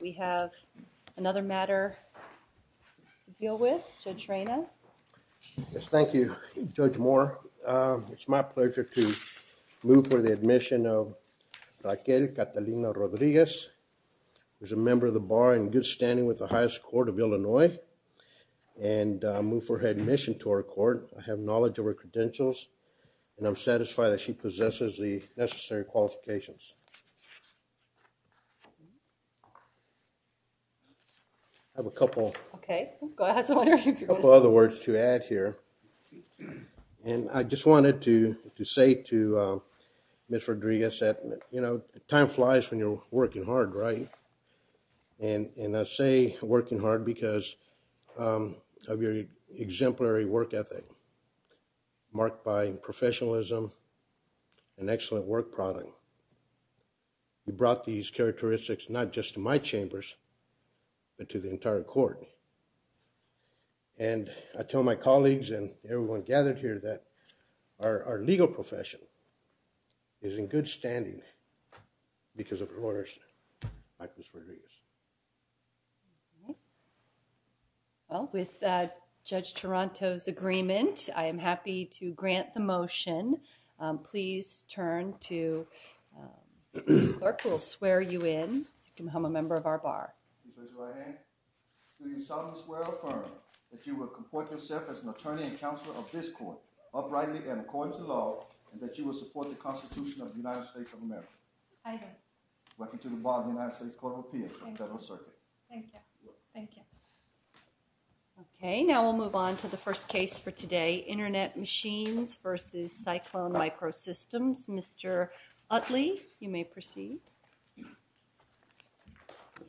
We have another matter deal with to train. Yes, thank you judge more. It's my pleasure to move for the admission of. Like, a Catalina Rodriguez, there's a member of the bar and good standing with the highest court of Illinois. And move for admission to our court. I have knowledge of her credentials. And I'm satisfied that she possesses the necessary qualifications. I have a couple of other words to add here and I just wanted to say to Miss Rodriguez that, you know, time flies when you're working hard, right? And I say working hard because of your exemplary work ethic. Marked by professionalism and excellent work product. You brought these characteristics, not just to my chambers. But to the entire court, and I tell my colleagues and everyone gathered here that our legal profession. Is in good standing because of orders. I was for years well, with that judge Toronto's agreement, I am happy to grant the motion. Please turn to work. We'll swear. You in a member of our bar. You will report yourself as an attorney and counsel of this court uprightly and according to law and that you will support the Constitution of the United States of America. Welcome to the United States Court of Appeals for the Federal Circuit. Thank you. Okay, now we'll move on to the first case for today. Internet machines versus cyclone micro systems. Mr. Utley, you may proceed.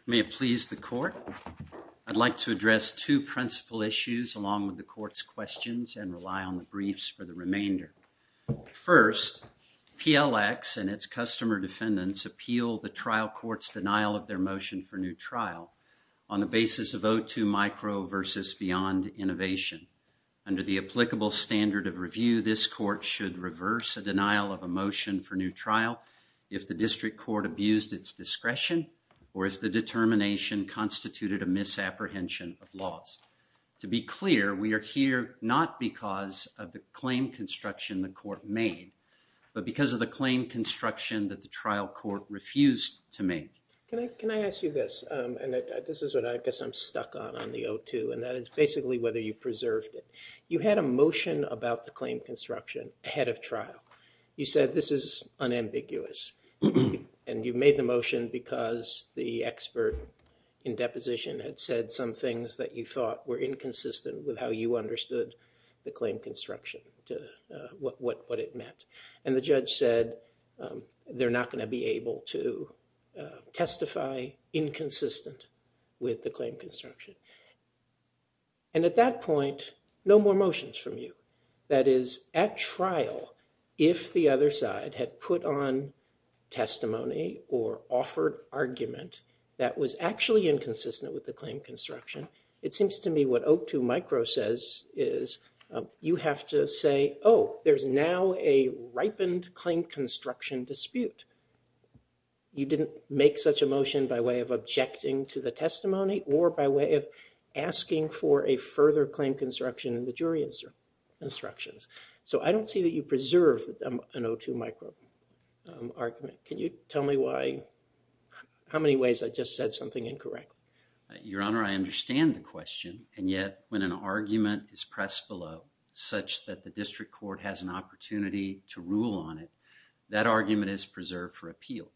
May it please the court. I'd like to address 2 principal issues along with the courts questions and rely on the briefs for the remainder. 1st, PLX and its customer defendants appeal the trial courts denial of their motion for new trial. On the basis of 0 to micro versus beyond innovation. Under the applicable standard of review, this court should reverse a denial of emotion for new trial. If the district court abused its discretion, or if the determination constituted a misapprehension of laws. To be clear, we are here, not because of the claim construction, the court made, but because of the claim construction that the trial court refused to me. Can I ask you this? And this is what I guess I'm stuck on on the O2, and that is basically whether you preserved it. You had a motion about the claim construction ahead of trial. You said this is unambiguous. And you made the motion because the expert in deposition had said some things that you thought were inconsistent with how you understood the claim construction to what it meant. And the judge said they're not going to be able to testify inconsistent with the claim construction. And at that point, no more motions from you. That is at trial. If the other side had put on testimony or offered argument that was actually inconsistent with the claim construction. It seems to me what O2 micro says is you have to say, oh, there's now a ripened claim construction dispute. You didn't make such a motion by way of objecting to the testimony or by way of asking for a further claim construction in the jury instructions. So I don't see that you preserve an O2 micro argument. Can you tell me why? How many ways I just said something incorrect? Your honor, I understand the question and yet when an argument is pressed below such that the district court has an opportunity to rule on it, that argument is preserved for appeal.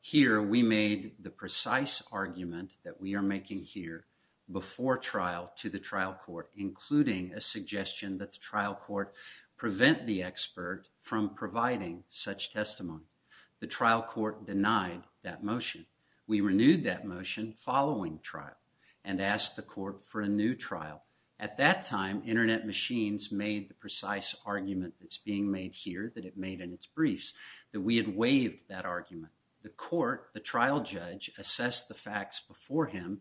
Here, we made the precise argument that we are making here before trial to the trial court, including a suggestion that the trial court prevent the expert from providing such testimony. The trial court denied that motion. We renewed that motion following trial and asked the court for a new trial. At that time, Internet machines made the precise argument that's being made here that it made in its briefs that we had waived that argument. The court, the trial judge assessed the facts before him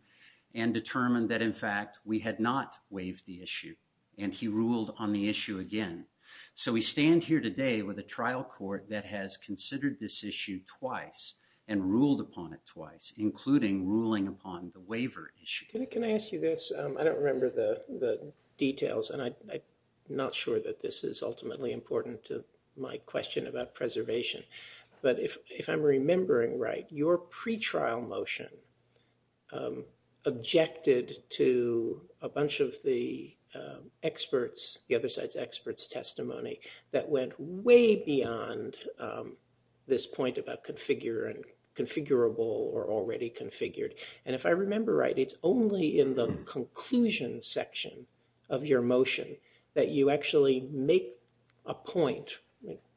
and determined that in fact, we had not waived the issue and he ruled on the issue again. So we stand here today with a trial court that has considered this issue twice and ruled upon it twice, including ruling upon the waiver issue. Can I ask you this? I don't remember the details and I'm not sure that this is ultimately important to my question about preservation. But if I'm remembering right, your pretrial motion objected to a bunch of the experts, the other side's experts testimony that went way beyond this point about configure and configurable or already configured. And if I remember right, it's only in the conclusion section of your motion that you actually make a point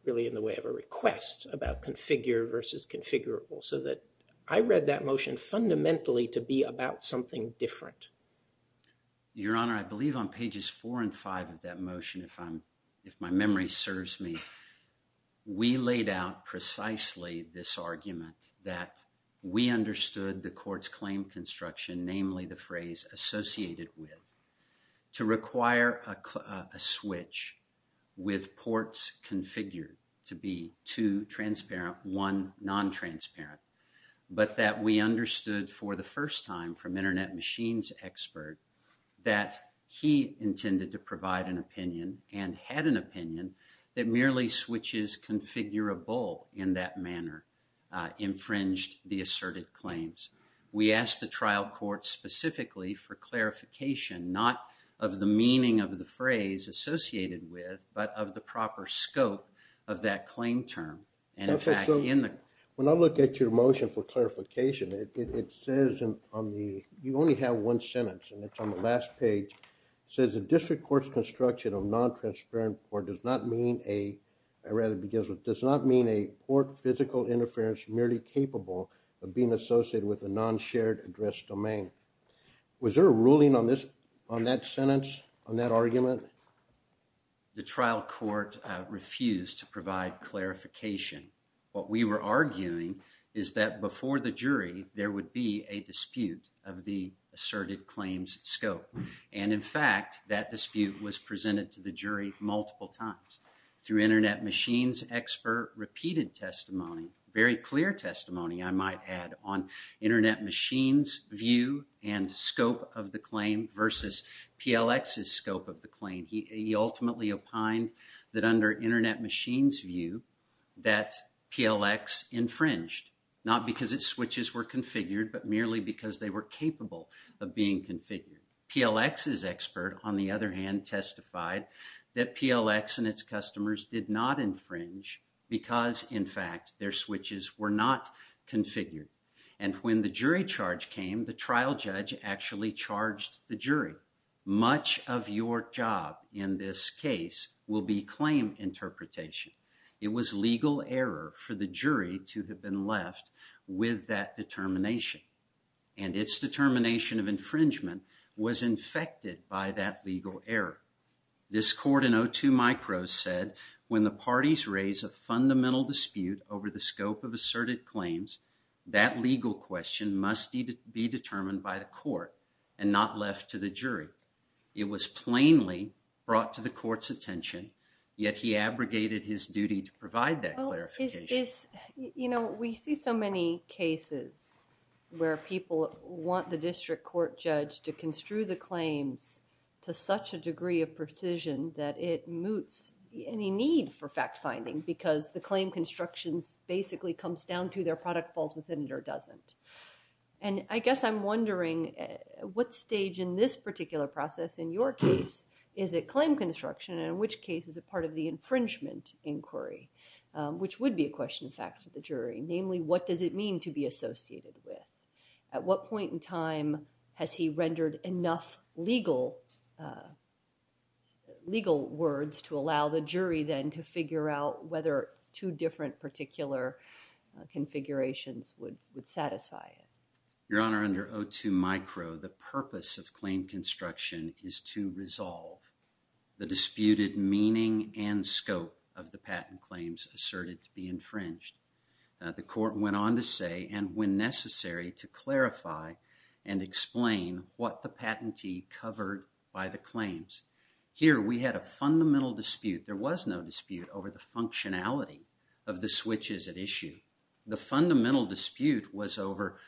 really in the way of a request about configure versus configurable so that I read that motion fundamentally to be about something different. Your Honor, I believe on pages four and five of that motion, if I'm, if my memory serves me, we laid out precisely this argument that we understood the court's claim construction, namely the phrase associated with to require a switch with ports configured to be two transparent, one non-transparent. But that we understood for the first time from Internet Machines expert that he intended to provide an opinion and had an opinion that merely switches configurable in that manner infringed the asserted claims. We asked the trial court specifically for clarification, not of the meaning of the phrase associated with, but of the proper scope of that claim term. And in fact, in the, when I look at your motion for clarification, it says on the, you only have 1 sentence and it's on the last page says a district courts construction of non transparent or does not mean a. I read it because it does not mean a port physical interference merely capable of being associated with a non shared address domain. Was there a ruling on this on that sentence on that argument? The trial court refused to provide clarification. What we were arguing is that before the jury, there would be a dispute of the asserted claims scope. And in fact, that dispute was presented to the jury multiple times through Internet Machines expert repeated testimony, very clear testimony I might add on Internet Machines view and scope of the claim versus PLX's scope of the claim. He ultimately opined that under Internet Machines view that PLX infringed not because it switches were configured, but merely because they were capable of being configured. PLX's expert on the other hand, testified that PLX and its customers did not infringe because in fact, their switches were not configured and when the jury charge came, the trial judge actually charged the jury. Much of your job in this case will be claim interpretation. It was legal error for the jury to have been left with that determination. And it's determination of infringement was infected by that legal error. This court in 02 Micro said when the parties raise a fundamental dispute over the scope of asserted claims, that legal question must be determined by the court and not left to the jury. It was plainly brought to the court's attention, yet he abrogated his duty to provide that clarification. You know, we see so many cases where people want the district court judge to construe the claims to such a degree of precision that it moots any need for fact finding because the claim constructions basically comes down to their product falls within it or doesn't. And I guess I'm wondering what stage in this particular process in your case is a claim construction and in which case is a part of the infringement inquiry, which would be a question of fact to the jury. Namely, what does it mean to be associated with? At what point in time has he rendered enough legal legal words to allow the jury then to figure out whether two different particular configurations would satisfy it? Your Honor under 02 Micro, the purpose of claim construction is to resolve the disputed meaning and scope of the patent claims asserted to be infringed. The court went on to say, and when necessary to clarify and explain what the patentee covered by the claims here, we had a fundamental dispute. There was no dispute over the functionality of the switches at issue. The fundamental dispute was over.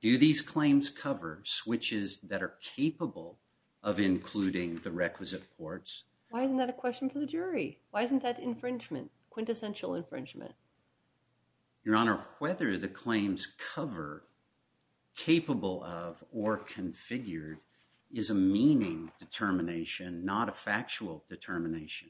Do these claims cover switches that are capable of including the requisite ports? Why isn't that a question for the jury? Why isn't that infringement quintessential infringement? Your Honor, whether the claims cover, capable of, or configured is a meaning determination, not a factual determination.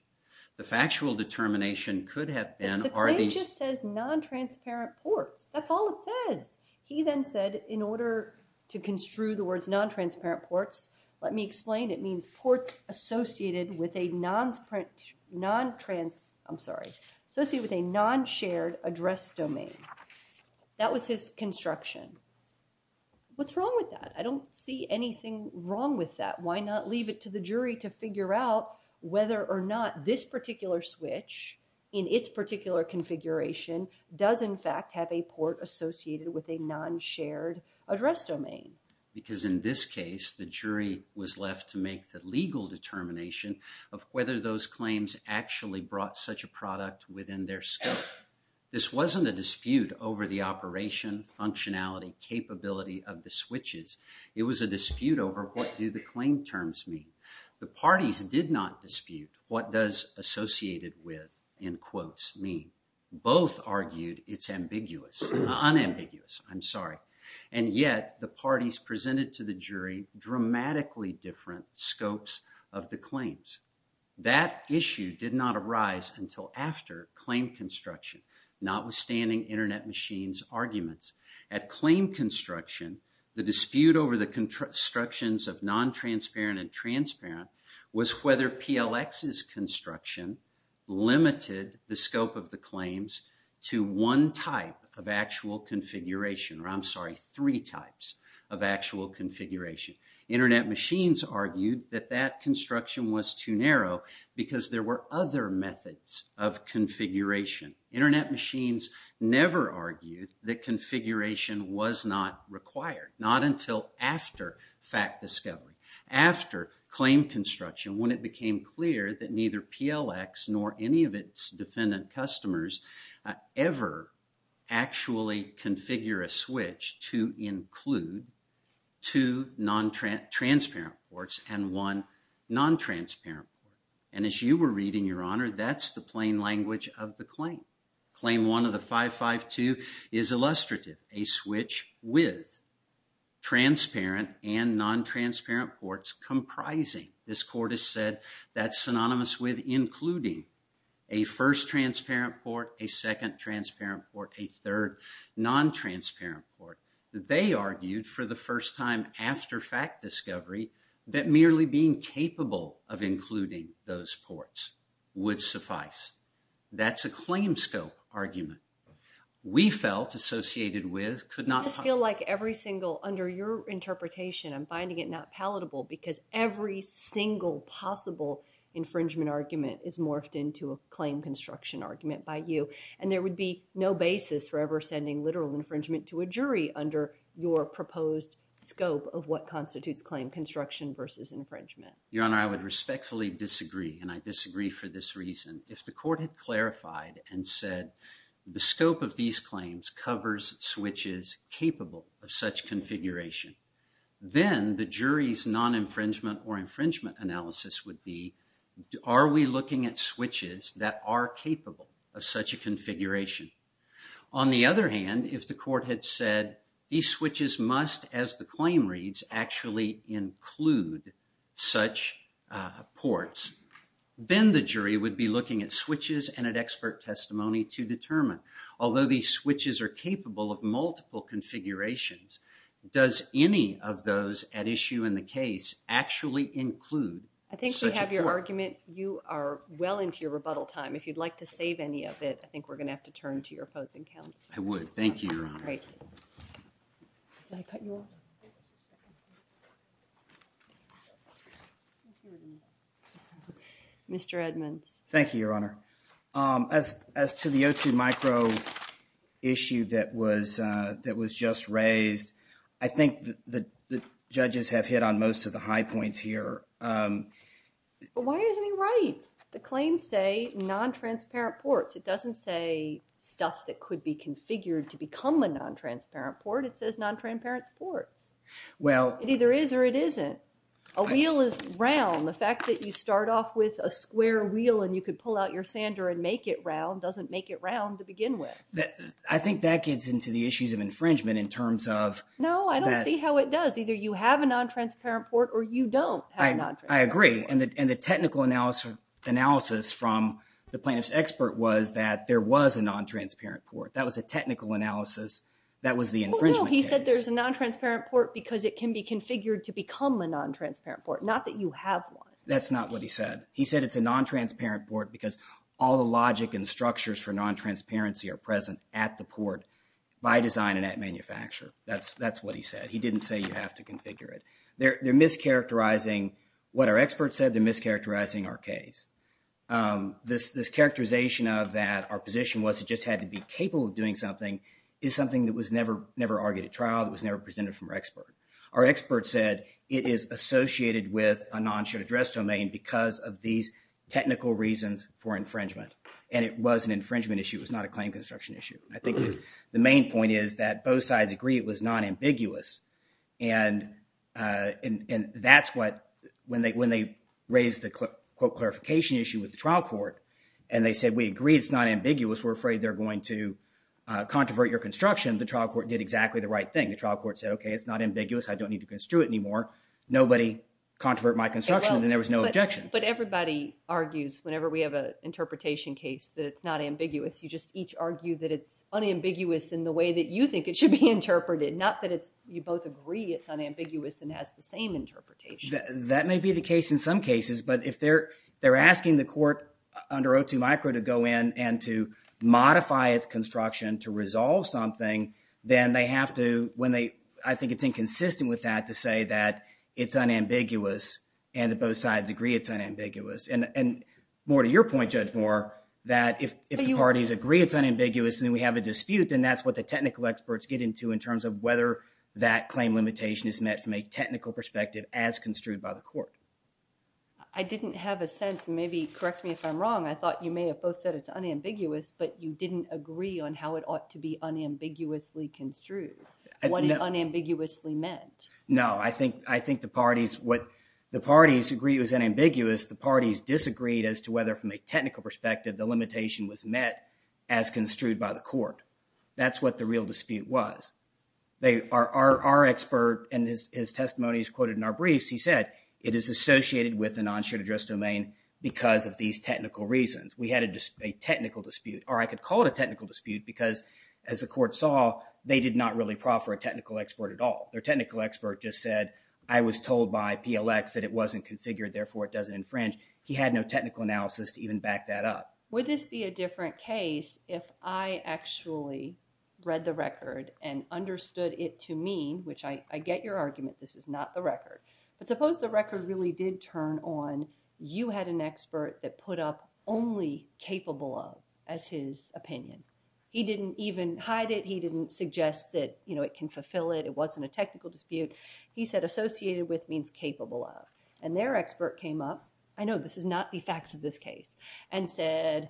The factual determination could have been, are these. The claim just says non-transparent ports. That's all it says. He then said in order to construe the words non-transparent ports, let me explain. It means ports associated with a non-trans, I'm sorry, associated with a non-shared address domain. That was his construction. What's wrong with that? I don't see anything wrong with that. Why not leave it to the jury to figure out whether or not this particular switch in its particular configuration does in fact have a port associated with a non-shared address domain? Because in this case, the jury was left to make the legal determination of whether those claims actually brought such a product within their scope. This wasn't a dispute over the operation, functionality, capability of the switches. It was a dispute over what do the claim terms mean. The parties did not dispute what does associated with, in quotes, mean. Both argued it's ambiguous, unambiguous, I'm sorry. And yet, the parties presented to the jury dramatically different scopes of the claims. That issue did not arise until after claim construction, notwithstanding Internet Machine's arguments. At claim construction, the dispute over the constructions of non-transparent and transparent was whether PLX's construction limited the scope of the claims to one type of actual configuration. I'm sorry, three types of actual configuration. Internet Machines argued that that construction was too narrow because there were other methods of configuration. Internet Machines never argued that configuration was not required, not until after fact discovery. After claim construction, when it became clear that neither PLX nor any of its defendant customers ever actually configure a switch to include two non-transparent ports and one non-transparent port. And as you were reading, Your Honor, that's the plain language of the claim. Claim one of the 552 is illustrative. A switch with transparent and non-transparent ports comprising. This court has said that's synonymous with including a first transparent port, a second transparent port, a third non-transparent port. They argued for the first time after fact discovery that merely being capable of including those ports would suffice. That's a claim scope argument. We felt associated with could not feel like every single under your interpretation. I'm finding it not palatable because every single possible infringement argument is morphed into a claim construction argument by you. And there would be no basis for ever sending literal infringement to a jury under your proposed scope of what constitutes claim construction versus infringement. Your Honor, I would respectfully disagree, and I disagree for this reason. If the court had clarified and said the scope of these claims covers switches capable of such configuration, then the jury's non-infringement or infringement analysis would be. Are we looking at switches that are capable of such a configuration? On the other hand, if the court had said these switches must, as the claim reads, actually include such ports, then the jury would be looking at switches and at expert testimony to determine. Although these switches are capable of multiple configurations, does any of those at issue in the case actually include such a port? I think we have your argument. You are well into your rebuttal time. If you'd like to save any of it, I think we're going to have to turn to your opposing counsel. I would. Thank you, Your Honor. Mr. Edmonds. Thank you, Your Honor. As to the O2 micro issue that was just raised, I think the judges have hit on most of the high points here. Why isn't he right? The claims say non-transparent ports. It doesn't say stuff that could be configured to become a non-transparent port. It says non-transparent ports. It either is or it isn't. A wheel is round. The fact that you start off with a square wheel and you could pull out your sander and make it round doesn't make it round to begin with. I think that gets into the issues of infringement in terms of... No, I don't see how it does. Either you have a non-transparent port or you don't have a non-transparent port. I agree. And the technical analysis from the plaintiff's expert was that there was a non-transparent port. That was a technical analysis. That was the infringement case. He said there's a non-transparent port because it can be configured to become a non-transparent port, not that you have one. That's not what he said. He said it's a non-transparent port because all the logic and structures for non-transparency are present at the port by design and at manufacture. That's what he said. He didn't say you have to configure it. They're mischaracterizing what our expert said. They're mischaracterizing our case. This characterization of that our position was it just had to be capable of doing something is something that was never argued at trial. That was never presented from our expert. Our expert said it is associated with a non-shared address domain because of these technical reasons for infringement. And it was an infringement issue. It was not a claim construction issue. I think the main point is that both sides agree it was non-ambiguous. And that's what when they raised the quote clarification issue with the trial court and they said we agree it's not ambiguous. We're afraid they're going to controvert your construction. The trial court did exactly the right thing. The trial court said, okay, it's not ambiguous. I don't need to construe it anymore. Nobody controvert my construction. And there was no objection. But everybody argues whenever we have an interpretation case that it's not ambiguous. You just each argue that it's unambiguous in the way that you think it should be interpreted. Not that you both agree it's unambiguous and has the same interpretation. That may be the case in some cases. But if they're asking the court under O2 Micro to go in and to modify its construction to resolve something, then they have to, when they, I think it's inconsistent with that to say that it's unambiguous. And that both sides agree it's unambiguous. And more to your point, Judge Moore, that if the parties agree it's unambiguous and we have a dispute, then that's what the technical experts get into in terms of whether that claim limitation is met from a technical perspective as construed by the court. I didn't have a sense. Maybe correct me if I'm wrong. I thought you may have both said it's unambiguous, but you didn't agree on how it ought to be unambiguously construed, what it unambiguously meant. No, I think the parties, what the parties agree is unambiguous. The parties disagreed as to whether from a technical perspective, the limitation was met as construed by the court. That's what the real dispute was. They are, our expert and his testimony is quoted in our briefs. He said it is associated with a non-shared address domain because of these technical reasons. We had a technical dispute or I could call it a technical dispute because as the court saw, they did not really proffer a technical expert at all. Their technical expert just said I was told by PLX that it wasn't configured, therefore it doesn't infringe. He had no technical analysis to even back that up. Would this be a different case if I actually read the record and understood it to mean, which I, I get your argument, this is not the record. But suppose the record really did turn on, you had an expert that put up only capable of as his opinion. He didn't even hide it. He didn't suggest that, you know, it can fulfill it. It wasn't a technical dispute. He said associated with means capable of and their expert came up. I know this is not the facts of this case and said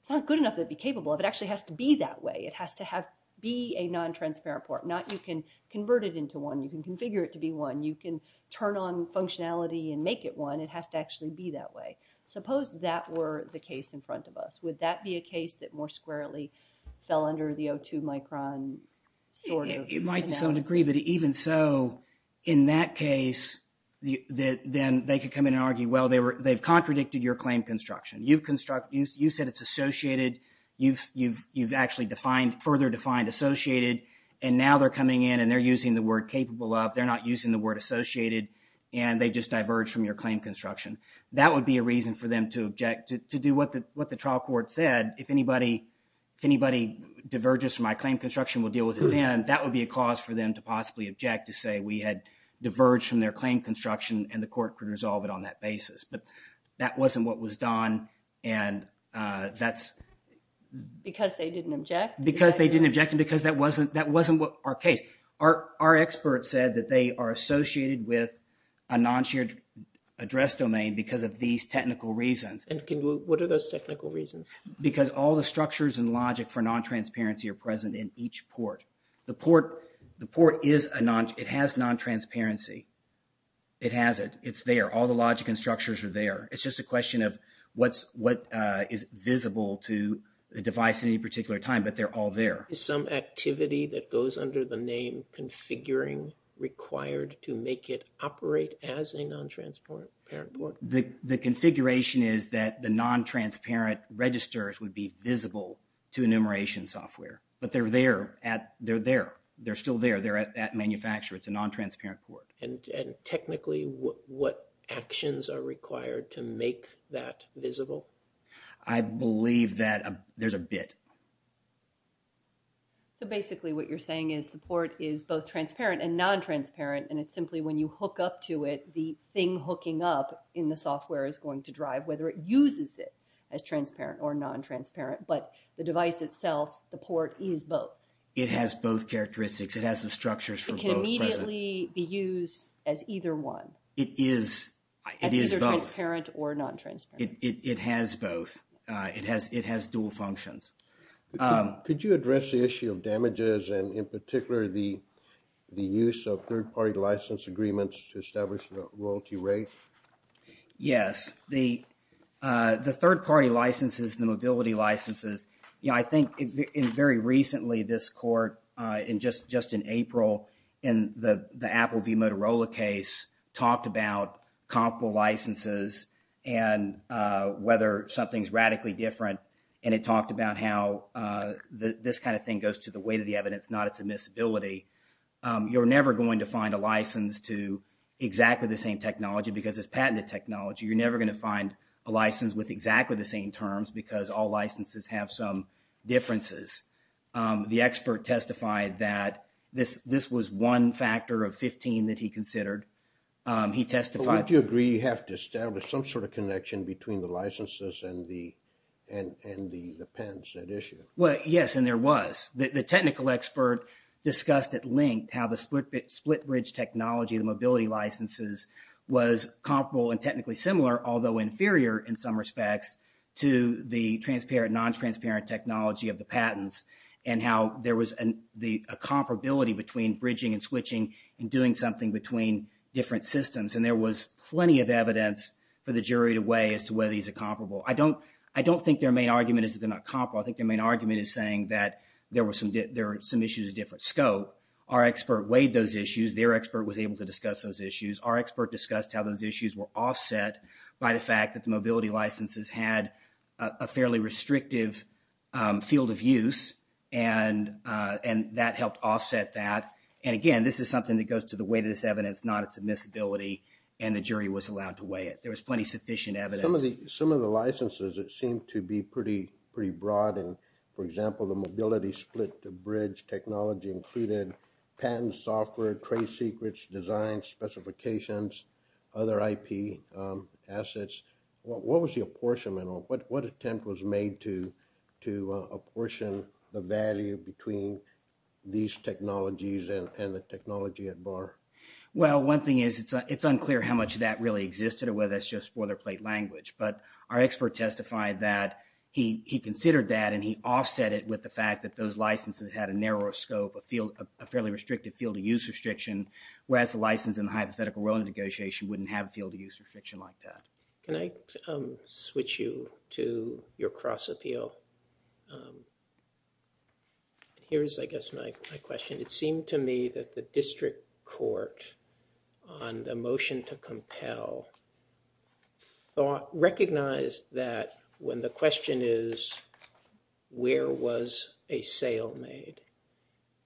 it's not good enough to be capable of. It actually has to be that way. It has to have, be a non-transparent part. Not you can convert it into one. You can configure it to be one. You can turn on functionality and make it one. It has to actually be that way. Suppose that were the case in front of us. Would that be a case that more squarely fell under the O2 micron sort of analysis? It might to some degree, but even so, in that case, then they could come in and argue, well, they've contradicted your claim construction. You've said it's associated. You've actually defined, further defined associated. And now they're coming in and they're using the word capable of. They're not using the word associated. And they just diverged from your claim construction. That would be a reason for them to object to do what the trial court said. If anybody diverges from my claim construction, we'll deal with it then. That would be a cause for them to possibly object to say we had diverged from their claim construction and the court could resolve it on that basis. But that wasn't what was done. And that's because they didn't object. Because they didn't object. And because that wasn't that wasn't our case. Our experts said that they are associated with a non-shared address domain because of these technical reasons. And what are those technical reasons? Because all the structures and logic for non-transparency are present in each port. The port, the port is a non, it has non-transparency. It has it. It's there. All the logic and structures are there. It's just a question of what's, what is visible to the device at any particular time. But they're all there. Is some activity that goes under the name configuring required to make it operate as a non-transparent parent port? The configuration is that the non-transparent registers would be visible to enumeration software. But they're there at, they're there. They're still there. They're at manufacture. It's a non-transparent port. And technically what actions are required to make that visible? I believe that there's a bit. So basically what you're saying is the port is both transparent and non-transparent. And it's simply when you hook up to it, the thing hooking up in the software is going to drive whether it uses it as transparent or non-transparent. But the device itself, the port is both. It has both characteristics. It has the structures for both present. It can immediately be used as either one. It is, it is both. As either transparent or non-transparent. It has both. It has, it has dual functions. Could you address the issue of damages and in particular the, the use of third party license agreements to establish the royalty rate? Yes. The, the third party licenses, the mobility licenses, you know, I think in very recently this court in just, just in April, in the Apple v. Motorola case talked about comparable licenses and whether something's radically different. And it talked about how this kind of thing goes to the weight of the evidence, not its admissibility. You're never going to find a license to exactly the same technology because it's patented technology. You're never going to find a license with exactly the same terms because all licenses have some differences. The expert testified that this, this was one factor of 15 that he considered. He testified. Would you agree you have to establish some sort of connection between the licenses and the, and, and the, the pens that issue? Well, yes. And there was the technical expert discussed at length how the split split bridge technology, the mobility licenses was comparable and technically similar, although inferior in some respects to the transparent, non-transparent technology of the patents and how there was the comparability between bridging and switching and doing something between different systems. And there was plenty of evidence for the jury to weigh as to whether these are comparable. I don't, I don't think their main argument is that they're not comparable. I think their main argument is saying that there were some, there were some issues of different scope. Our expert weighed those issues. Their expert was able to discuss those issues. Our expert discussed how those issues were offset by the fact that the mobility licenses had a fairly restrictive field of use and, and that helped offset that. And again, this is something that goes to the weight of this evidence, not its admissibility. And the jury was allowed to weigh it. There was plenty sufficient evidence. Some of the, some of the licenses, it seemed to be pretty, pretty broad. And for example, the mobility split, the bridge technology included patent software, trade secrets, design specifications, other IP assets. What was the apportionment of what, what attempt was made to, to apportion the value between these technologies and the technology at bar? Well, one thing is it's, it's unclear how much of that really existed or whether that's just boilerplate language, but our expert testified that he, he considered that and he offset it with the fact that those licenses had a narrower scope of a fairly restrictive field of use restriction, whereas the license in the hypothetical willingness negotiation wouldn't have a field of use restriction like that. Can I switch you to your cross appeal? Here's, I guess, my question. It seemed to me that the district court on the motion to compel thought, recognized that when the question is, where was a sale made?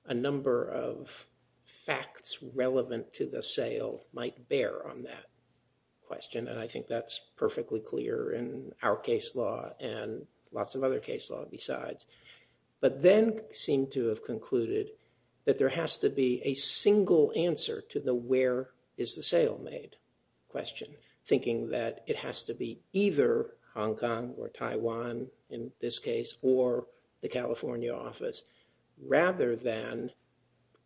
A number of facts relevant to the sale might bear on that question. And I think that's perfectly clear in our case law and lots of other case law besides. But then seemed to have concluded that there has to be a single answer to the, where is the sale made question, thinking that it has to be either Hong Kong or Taiwan, in this case, or the California office, rather than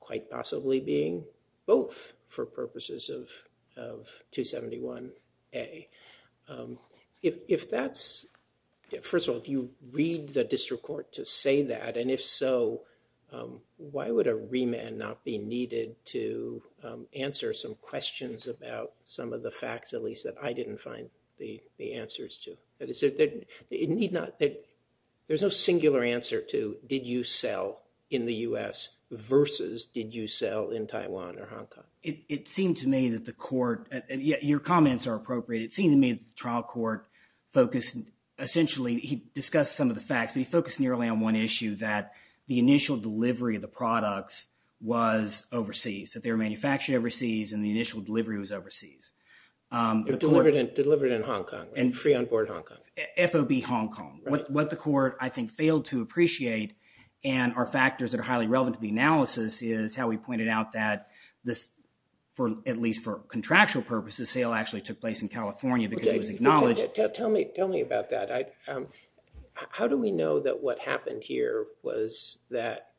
quite possibly being both for purposes of, of 271A. If, if that's, first of all, do you read the district court to say that? And if so, why would a remand not be needed to answer some questions about some of the facts, at least that I didn't find the, the answers to? That is, it need not, there's no singular answer to, did you sell in the US versus did you sell in Taiwan or Hong Kong? It seemed to me that the court, your comments are appropriate. It seemed to me that the trial court focused, essentially, he discussed some of the facts, but he focused nearly on one issue, that the initial delivery of the products was overseas, that they were manufactured overseas and the initial delivery was overseas. Delivered in, delivered in Hong Kong and free on board Hong Kong. FOB Hong Kong. What the court, I think, failed to appreciate and are factors that are highly relevant to the analysis is how we pointed out that this, for at least for contractual purposes, sale actually took place in California because it was acknowledged. Tell me, tell me about that. How do we know that what happened here was that,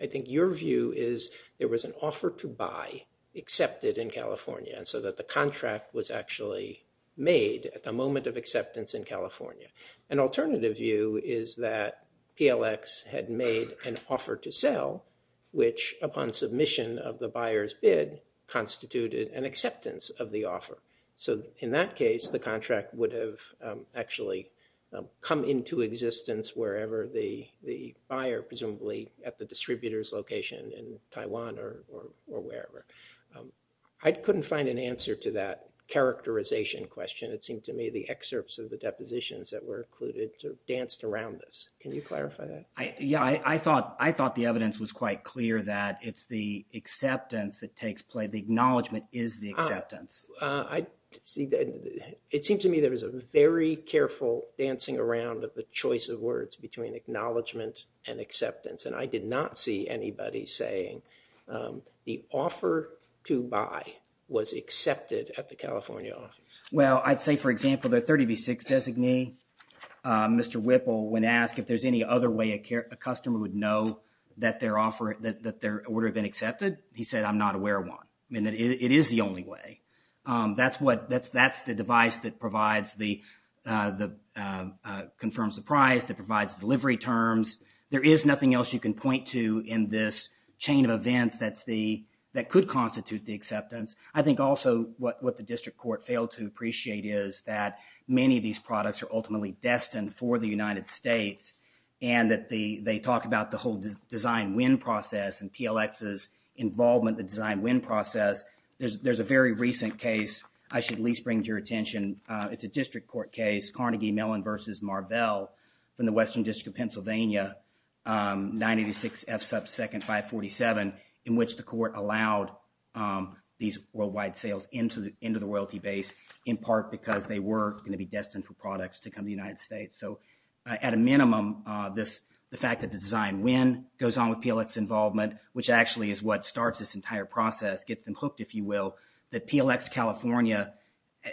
I think your view is there was an offer to buy accepted in California so that the contract was actually made at the moment of acceptance in California. An alternative view is that PLX had made an offer to sell, which upon submission of the buyer's bid, constituted an acceptance of the offer. So in that case, the contract would have actually come into existence wherever the buyer, presumably at the distributor's location in Taiwan or wherever. I couldn't find an answer to that characterization question. It seemed to me the excerpts of the depositions that were included danced around this. Can you clarify that? Yeah, I thought, I thought the evidence was quite clear that it's the acceptance that takes place. The acknowledgement is the acceptance. I see that. It seemed to me there was a very careful dancing around of the choice of words between acknowledgement and acceptance. And I did not see anybody saying the offer to buy was accepted at the California office. Well, I'd say, for example, the 30B6 designee, Mr. Whipple, when asked if there's any other way a customer would know that their offer, that their order had been accepted, he said, I'm not aware of one. I mean, it is the only way. That's what, that's, that's the device that provides the, the confirmed surprise, that provides delivery terms. There is nothing else you can point to in this chain of events that's the, that could constitute the acceptance. I think also what, what the district court failed to appreciate is that many of these products are ultimately destined for the United States and that the, they talk about the whole design win process and PLX's involvement, the design win process. There's, there's a very recent case I should at least bring to your attention. It's a district court case, Carnegie Mellon versus Marbell from the Western District of Pennsylvania, 986 F sub 2nd 547, in which the court allowed these worldwide sales into the, into the royalty base in part because they were going to be destined for products to come to the United States. So at a minimum, this, the fact that the design win goes on with PLX's involvement, which actually is what starts this entire process, gets them hooked, if you will, that PLX California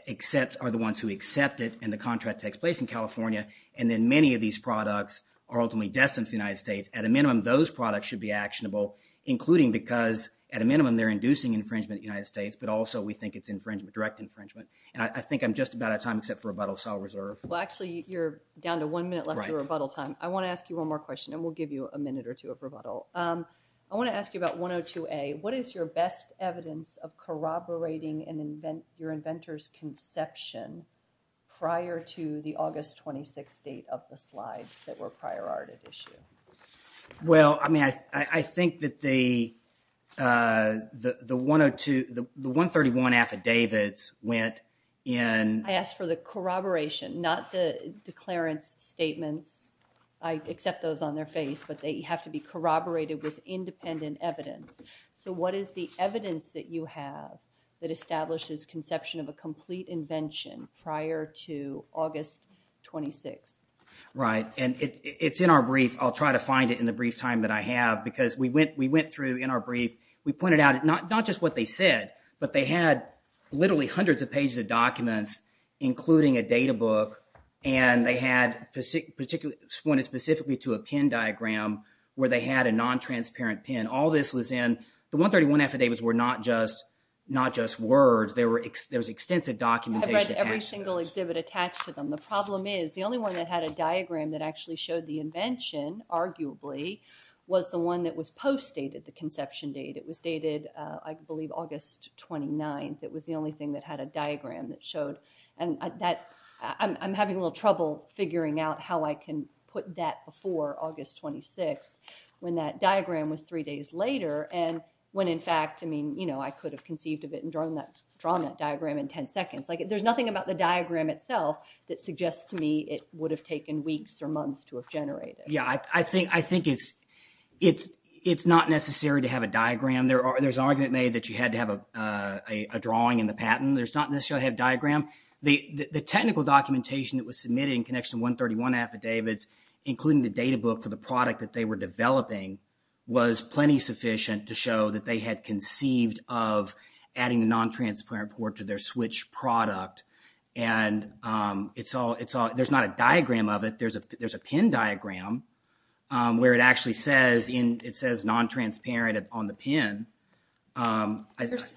accepts, are the ones who accept it and the contract takes place in California and then many of these products are ultimately destined for the United States. At a minimum, those products should be actionable, including because at a minimum, they're inducing infringement in the United States, but also we think it's infringement, direct infringement, and I think I'm just about out of time except for rebuttal, so I'll reserve. Well, actually you're down to one minute left of rebuttal time. I want to ask you one more question and we'll give you a minute or two of rebuttal. I want to ask you about 102A. What is your best evidence of corroborating an invent, your inventor's conception prior to the August 26 date of the slides that were prior arted issue? Well, I mean, I think that the, the 102, the 131 affidavits went in. I asked for the corroboration, not the declarance statements. I accept those on their face, but they have to be corroborated with independent evidence. So what is the evidence that you have that establishes a conception of a complete invention prior to August 26? Right, and it's in our brief. I'll try to find it in the brief time that I have because we went, we went through in our brief, we pointed out not, not just what they said, but they had literally hundreds of pages of documents, including a data book, and they had particularly, pointed specifically to a pin diagram where they had a non-transparent pin. All this was in, the 131 affidavits were not just, not just words. There was extensive documentation. I've read every single exhibit attached to them. The problem is the only one that had a diagram that actually showed the invention, arguably, was the one that was post-dated, the conception date. It was dated, I believe, August 29th. It was the only thing that had a diagram that showed, and that, I'm having a little trouble figuring out how I can put that before August 26th, when that diagram was three days later. And when in fact, I mean, you know, I could have conceived of it and drawn that, drawn that diagram in 10 seconds. Like, there's nothing about the diagram itself that suggests to me it would have taken weeks or months to have generated. Yeah, I think, I think it's, it's, it's not necessary to have a diagram. There are, there's argument made that you had to have a, a drawing in the patent. There's not necessarily a diagram. The, the technical documentation that was submitted in connection to 131 affidavits, including the data book for the product that they were developing was plenty sufficient to show that they had conceived of adding the non-transparent port to their switch product. And it's all, it's all, there's not a diagram of it. There's a, there's a pin diagram where it actually says in, it says non-transparent on the pin.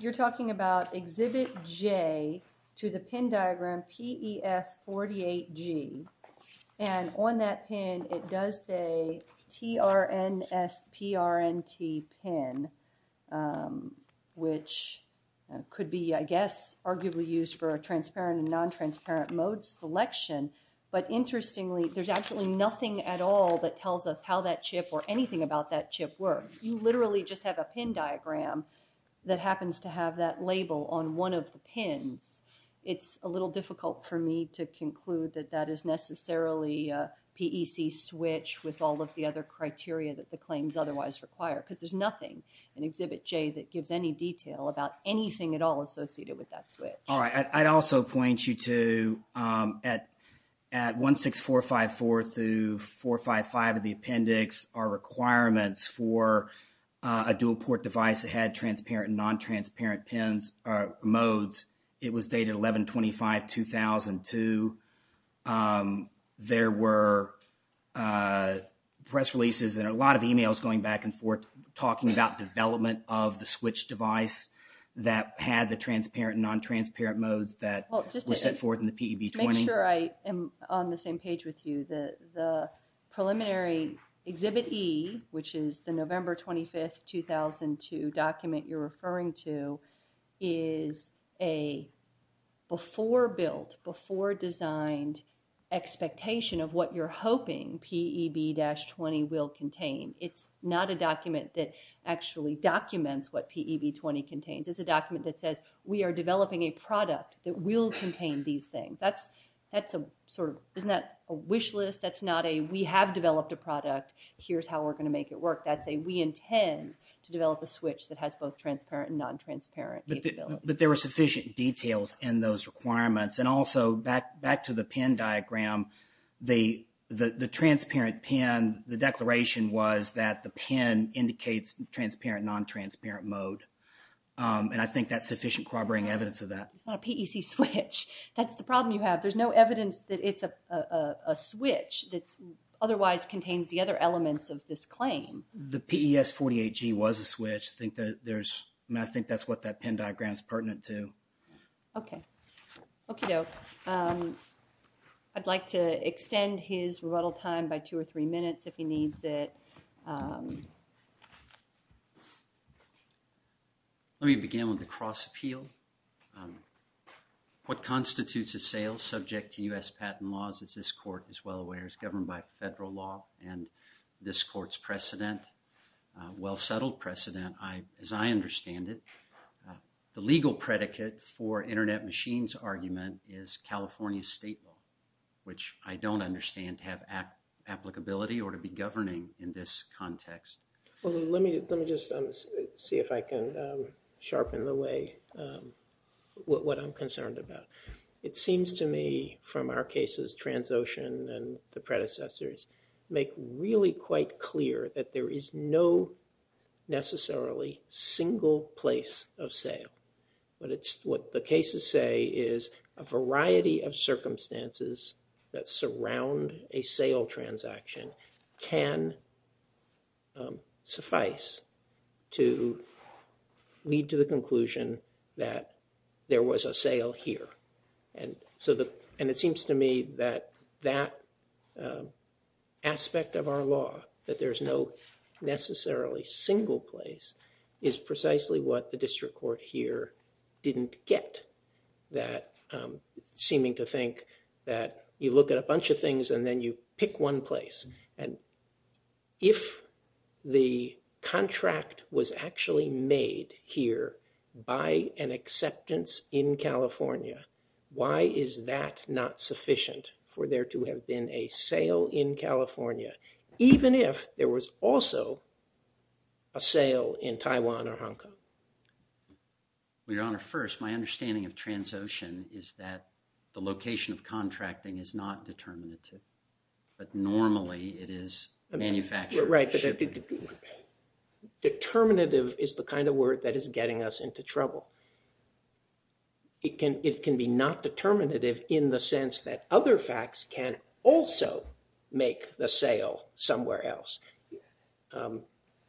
You're talking about exhibit J to the pin diagram, PES48G, and on that pin, it does say TRNSPRNT pin, which could be, I guess, arguably used for a transparent and non-transparent mode selection. But interestingly, there's actually nothing at all that tells us how that chip or anything about that chip works. You literally just have a pin diagram that happens to have that label on one of the pins. It's a little difficult for me to conclude that that is necessarily a PEC switch with all of the other criteria that the claims otherwise require, because there's nothing in exhibit J that gives any detail about anything at all associated with that switch. All right, I'd also point you to, at 16454 through 455 of the appendix, our requirements for a dual port device that had transparent and non-transparent pins or modes, it was dated 11-25-2002. There were press releases and a lot of emails going back and forth talking about development of the switch device that had the transparent and non-transparent modes that were sent forth in the PEB20. To make sure I am on the same page with you, the preliminary exhibit E, which is the November 25th, 2002 document you're referring to, is a before-built, before-designed expectation of what you're hoping PEB-20 will contain. It's not a document that actually documents what PEB20 contains. It's a document that says, we are developing a product that will contain these things. That's a sort of, isn't that a wish list? That's not a, we have developed a product, here's how we're going to make it work. That's a, we intend to develop a switch that has both transparent and non-transparent capability. But there were sufficient details in those requirements. And also, back to the PIN diagram, the transparent PIN, the declaration was that the PIN indicates transparent, non-transparent mode. And I think that's sufficient corroborating evidence of that. It's not a PEC switch. That's the problem you have. There's no evidence that it's a switch that otherwise contains the other elements of this claim. The PES48G was a switch. I think that there's, I think that's what that PIN diagram is pertinent to. Okay. Okie doke. I'd like to extend his rebuttal time by two or three minutes if he needs it. Let me begin with the cross appeal. What constitutes a sale subject to U.S. patent laws as this court is well aware is governed by federal law and this court's precedent, well settled precedent, as I understand it, the legal predicate for internet machines argument is California state law, which I don't understand to have applicability or to be governing in this context. Well, let me just see if I can sharpen the way what I'm concerned about. It seems to me from our cases, Transocean and the predecessors make really quite clear that there is no necessarily single place of sale. But it's what the cases say is a variety of circumstances that surround a sale transaction can suffice to lead to the conclusion that there was a sale here. And so, and it seems to me that that aspect of our law, that there's no necessarily single place is precisely what the district court here didn't get that seeming to think that you look at a bunch of things and then you pick one place. And if the contract was actually made here by an acceptance in California, why is that not sufficient for there to have been a sale in California, even if there was also a sale in Taiwan or Hong Kong? Your Honor, first, my understanding of Transocean is that the location of contracting is not determinative, but normally it is manufactured. Right, but determinative is the kind of word that is getting us into trouble. It can be not determinative in the sense that other facts can also make the sale somewhere else,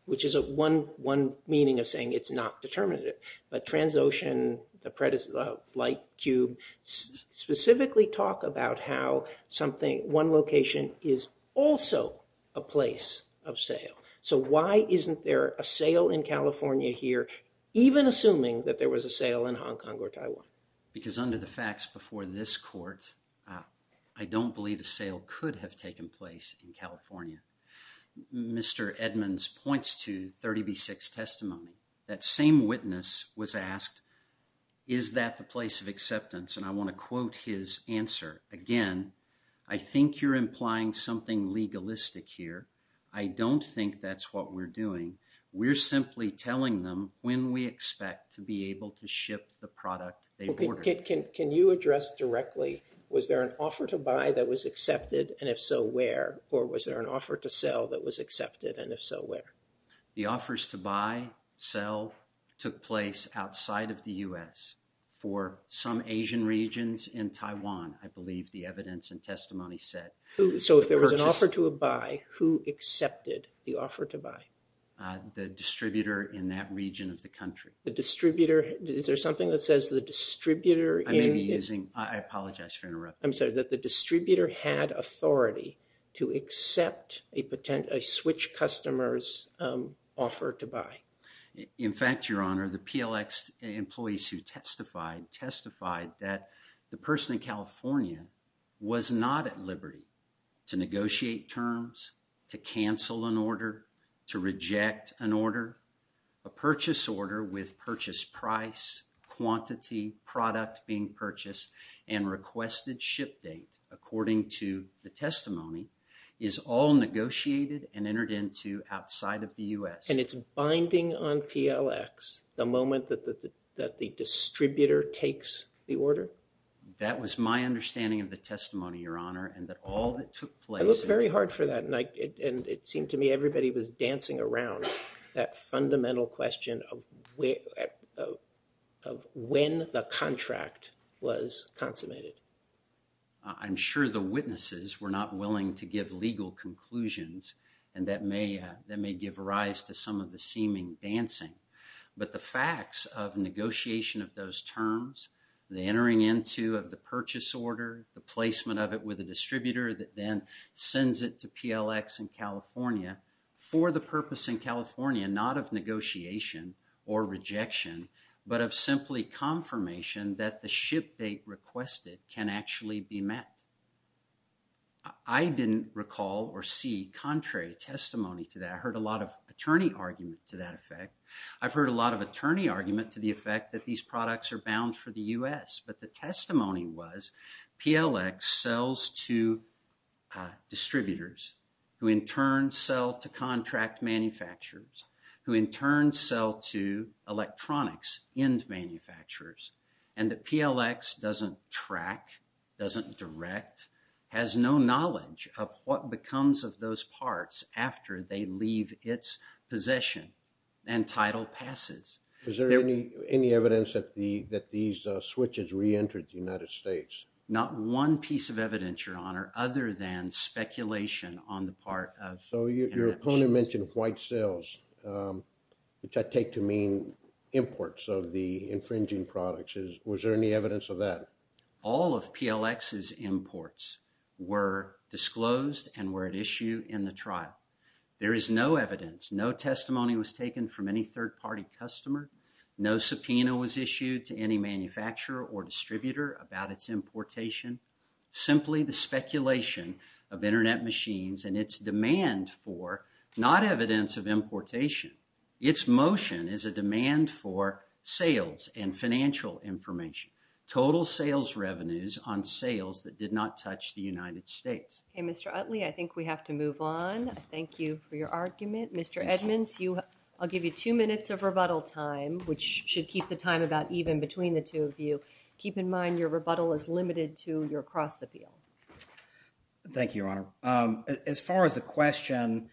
which is one meaning of saying it's not determinative. But Transocean, the light cube, specifically talk about how something, one location is also a place of sale. So why isn't there a sale in California here, even assuming that there was a sale in Hong Kong or Taiwan? Because under the facts before this court, I don't believe a sale could have taken place in California. Mr. Edmonds points to 30B6 testimony. That same witness was asked, is that the place of acceptance? And I want to quote his answer again. I think you're implying something legalistic here. I don't think that's what we're doing. We're simply telling them when we expect to be able to ship the product. Can you address directly was there an offer to buy that was accepted? And if so, where? Or was there an offer to sell that was accepted? And if so, where? The offers to buy, sell, took place outside of the US for some Asian regions in Taiwan, I believe the evidence and testimony said. So if there was an offer to a buy, who accepted the offer to buy? The distributor in that region of the country. The distributor. Is there something that says the distributor? I may be using, I apologize for interrupting. I'm sorry that the distributor had authority to accept a switch customers offer to buy. In fact, Your Honor, the PLX employees who testified, testified that the person in California was not at liberty to negotiate terms, to cancel an order, to reject an order, a purchase order with purchase price, quantity, product being purchased, and requested ship date, according to the testimony, is all negotiated and entered into outside of the US. And it's binding on PLX the moment that the distributor takes the order? That was my understanding of the testimony, Your Honor, and that all that took place. I looked very hard for that. And it seemed to me everybody was dancing around that fundamental question of when the contract was consummated. I'm sure the witnesses were not willing to give legal conclusions. And that may give rise to some of the seeming dancing. But the facts of negotiation of those terms, the entering into of the purchase order, the placement of it with a distributor that then sends it to PLX in California for the purpose in California, not of negotiation or rejection, but of simply confirmation that the ship date requested can actually be met. I didn't recall or see contrary testimony to that. I heard a lot of attorney argument to that effect. I've heard a lot of attorney argument to the effect that these products are bound for the US. But the testimony was PLX sells to distributors who in turn sell to contract manufacturers, who in turn sell to electronics and manufacturers. And the PLX doesn't track, doesn't direct, has no knowledge of what becomes of those parts after they leave its possession and title passes. Is there any evidence that these switches reentered the United States? Not one piece of evidence, your honor, other than speculation on the part of. So your opponent mentioned white sales, which I take to mean imports of the infringing products. Was there any evidence of that? All of PLX's imports were disclosed and were at issue in the trial. There is no evidence, no testimony was taken from any third party customer. No subpoena was issued to any manufacturer or distributor about its importation. Simply the speculation of Internet machines and its demand for not evidence of importation. Its motion is a demand for sales and financial information, total sales revenues on sales that did not touch the United States. Okay, Mr. Utley, I think we have to move on. Thank you for your argument. Mr. Edmonds, I'll give you two minutes of rebuttal time, which should keep the time about even between the two of you. Keep in mind your rebuttal is limited to your cross appeal. Thank you, your honor. As far as the question,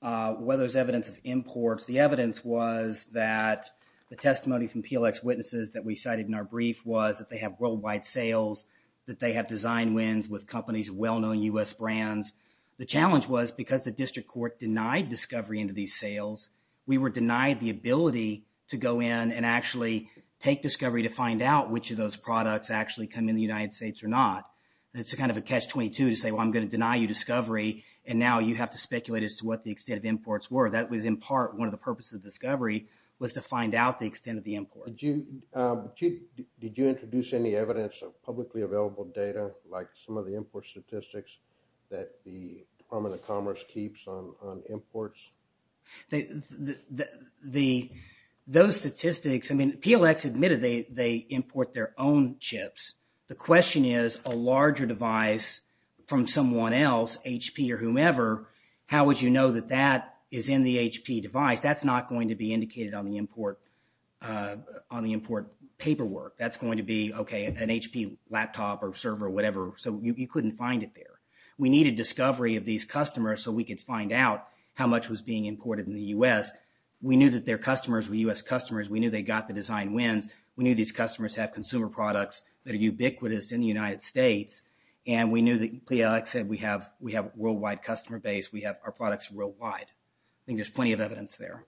whether there's evidence of imports, the evidence was that the testimony from PLX witnesses that we cited in our brief was that they have worldwide sales, that they have design wins with companies, well-known U.S. brands. The challenge was because the district court denied discovery into these sales, we were denied the ability to go in and actually take discovery to find out which of those products actually come in the United States or not. It's a kind of a catch 22 to say, well, I'm going to deny you discovery and now you have to speculate as to what the extent of imports were. That was in part one of the purposes of discovery was to find out the extent of the import. Did you introduce any evidence of publicly available data like some of the import statistics that the Department of Commerce keeps on imports? Those statistics, I mean, PLX admitted they import their own chips. The question is a larger device from someone else, HP or whomever, how would you know that that is in the HP device? That's not going to be indicated on the import paperwork. That's going to be, okay, an HP laptop or server or whatever. So you couldn't find it there. We needed discovery of these customers so we could find out how much was being imported in the U.S. We knew that their customers were U.S. customers. We knew they got the design wins. We knew these customers have consumer products that are ubiquitous in the United States. And we knew that PLX said we have worldwide customer base. We have our products worldwide. I think there's plenty of evidence there.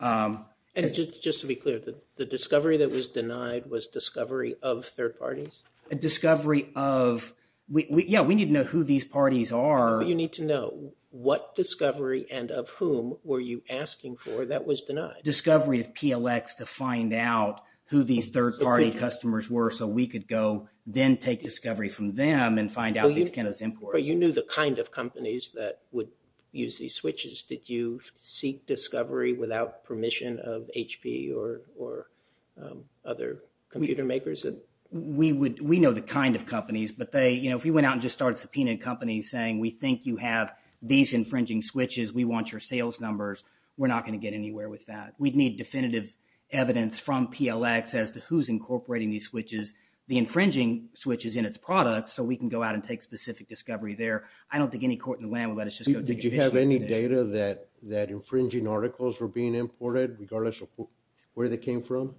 And just to be clear, the discovery that was denied was discovery of third parties? A discovery of, yeah, we need to know who these parties are. You need to know what discovery and of whom were you asking for that was denied. Discovery of PLX to find out who these third party customers were so we could go then take discovery from them and find out the extent of imports. You knew the kind of companies that would use these switches. Did you seek discovery without permission of HP or other computer makers? We know the kind of companies, but if we went out and just started subpoenaing companies saying we think you have these infringing switches, we want your sales numbers, we're not going to get anywhere with that. We'd need definitive evidence from PLX as to who's incorporating these switches, the infringing switches in its products, so we can go out and take specific discovery there. I don't think any court in the land would let us just go take official evidence. Did you have any data that infringing articles were being imported regardless of where they came from?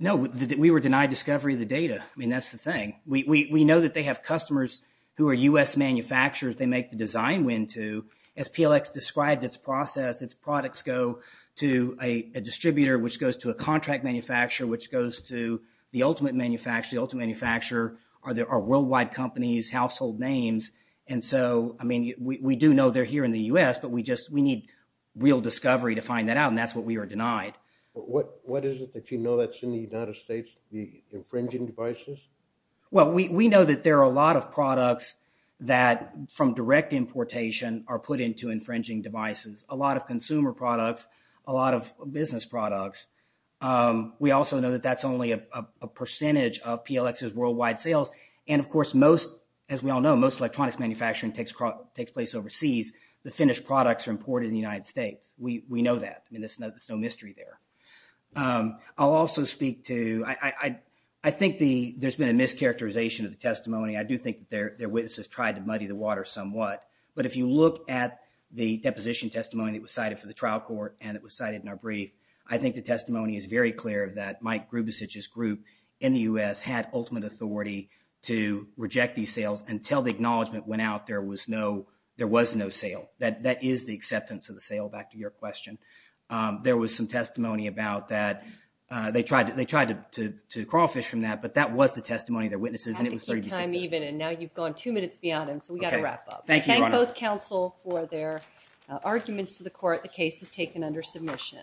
No, we were denied discovery of the data. I mean, that's the thing. We know that they have customers who are U.S. manufacturers they make the design win to. As PLX described its process, its products go to a distributor which goes to a contract manufacturer which goes to the ultimate manufacturer. The ultimate manufacturer are worldwide companies, household names. And so, I mean, we do know they're here in the U.S., but we need real discovery to find that out and that's what we were denied. What is it that you know that's in the United States, the infringing devices? Well, we know that there are a lot of products that from direct importation are put into infringing devices, a lot of consumer products, a lot of business products. We also know that that's only a percentage of PLX's worldwide sales. And of course, most, as we all know, most electronics manufacturing takes place overseas. The finished products are imported in the United States. We know that. I mean, there's no mystery there. I'll also speak to, I think there's been a mischaracterization of the testimony. I do think that their witnesses tried to muddy the water somewhat. But if you look at the deposition testimony that was cited for the trial court and it was cited in our brief, I think the testimony is very clear that Mike Grubesich's group in the U.S. had ultimate authority to reject these sales until the acknowledgment went out. There was no, there was no sale. That is the acceptance of the sale, back to your question. There was some testimony about that. They tried to, they tried to, to crawl fish from that, but that was the testimony of their witnesses. And it was pretty consistent. I had to keep time even and now you've gone two minutes beyond him. So we got to wrap up. Thank you, Your Honor. Thank both counsel for their arguments to the court. The case is taken under submission.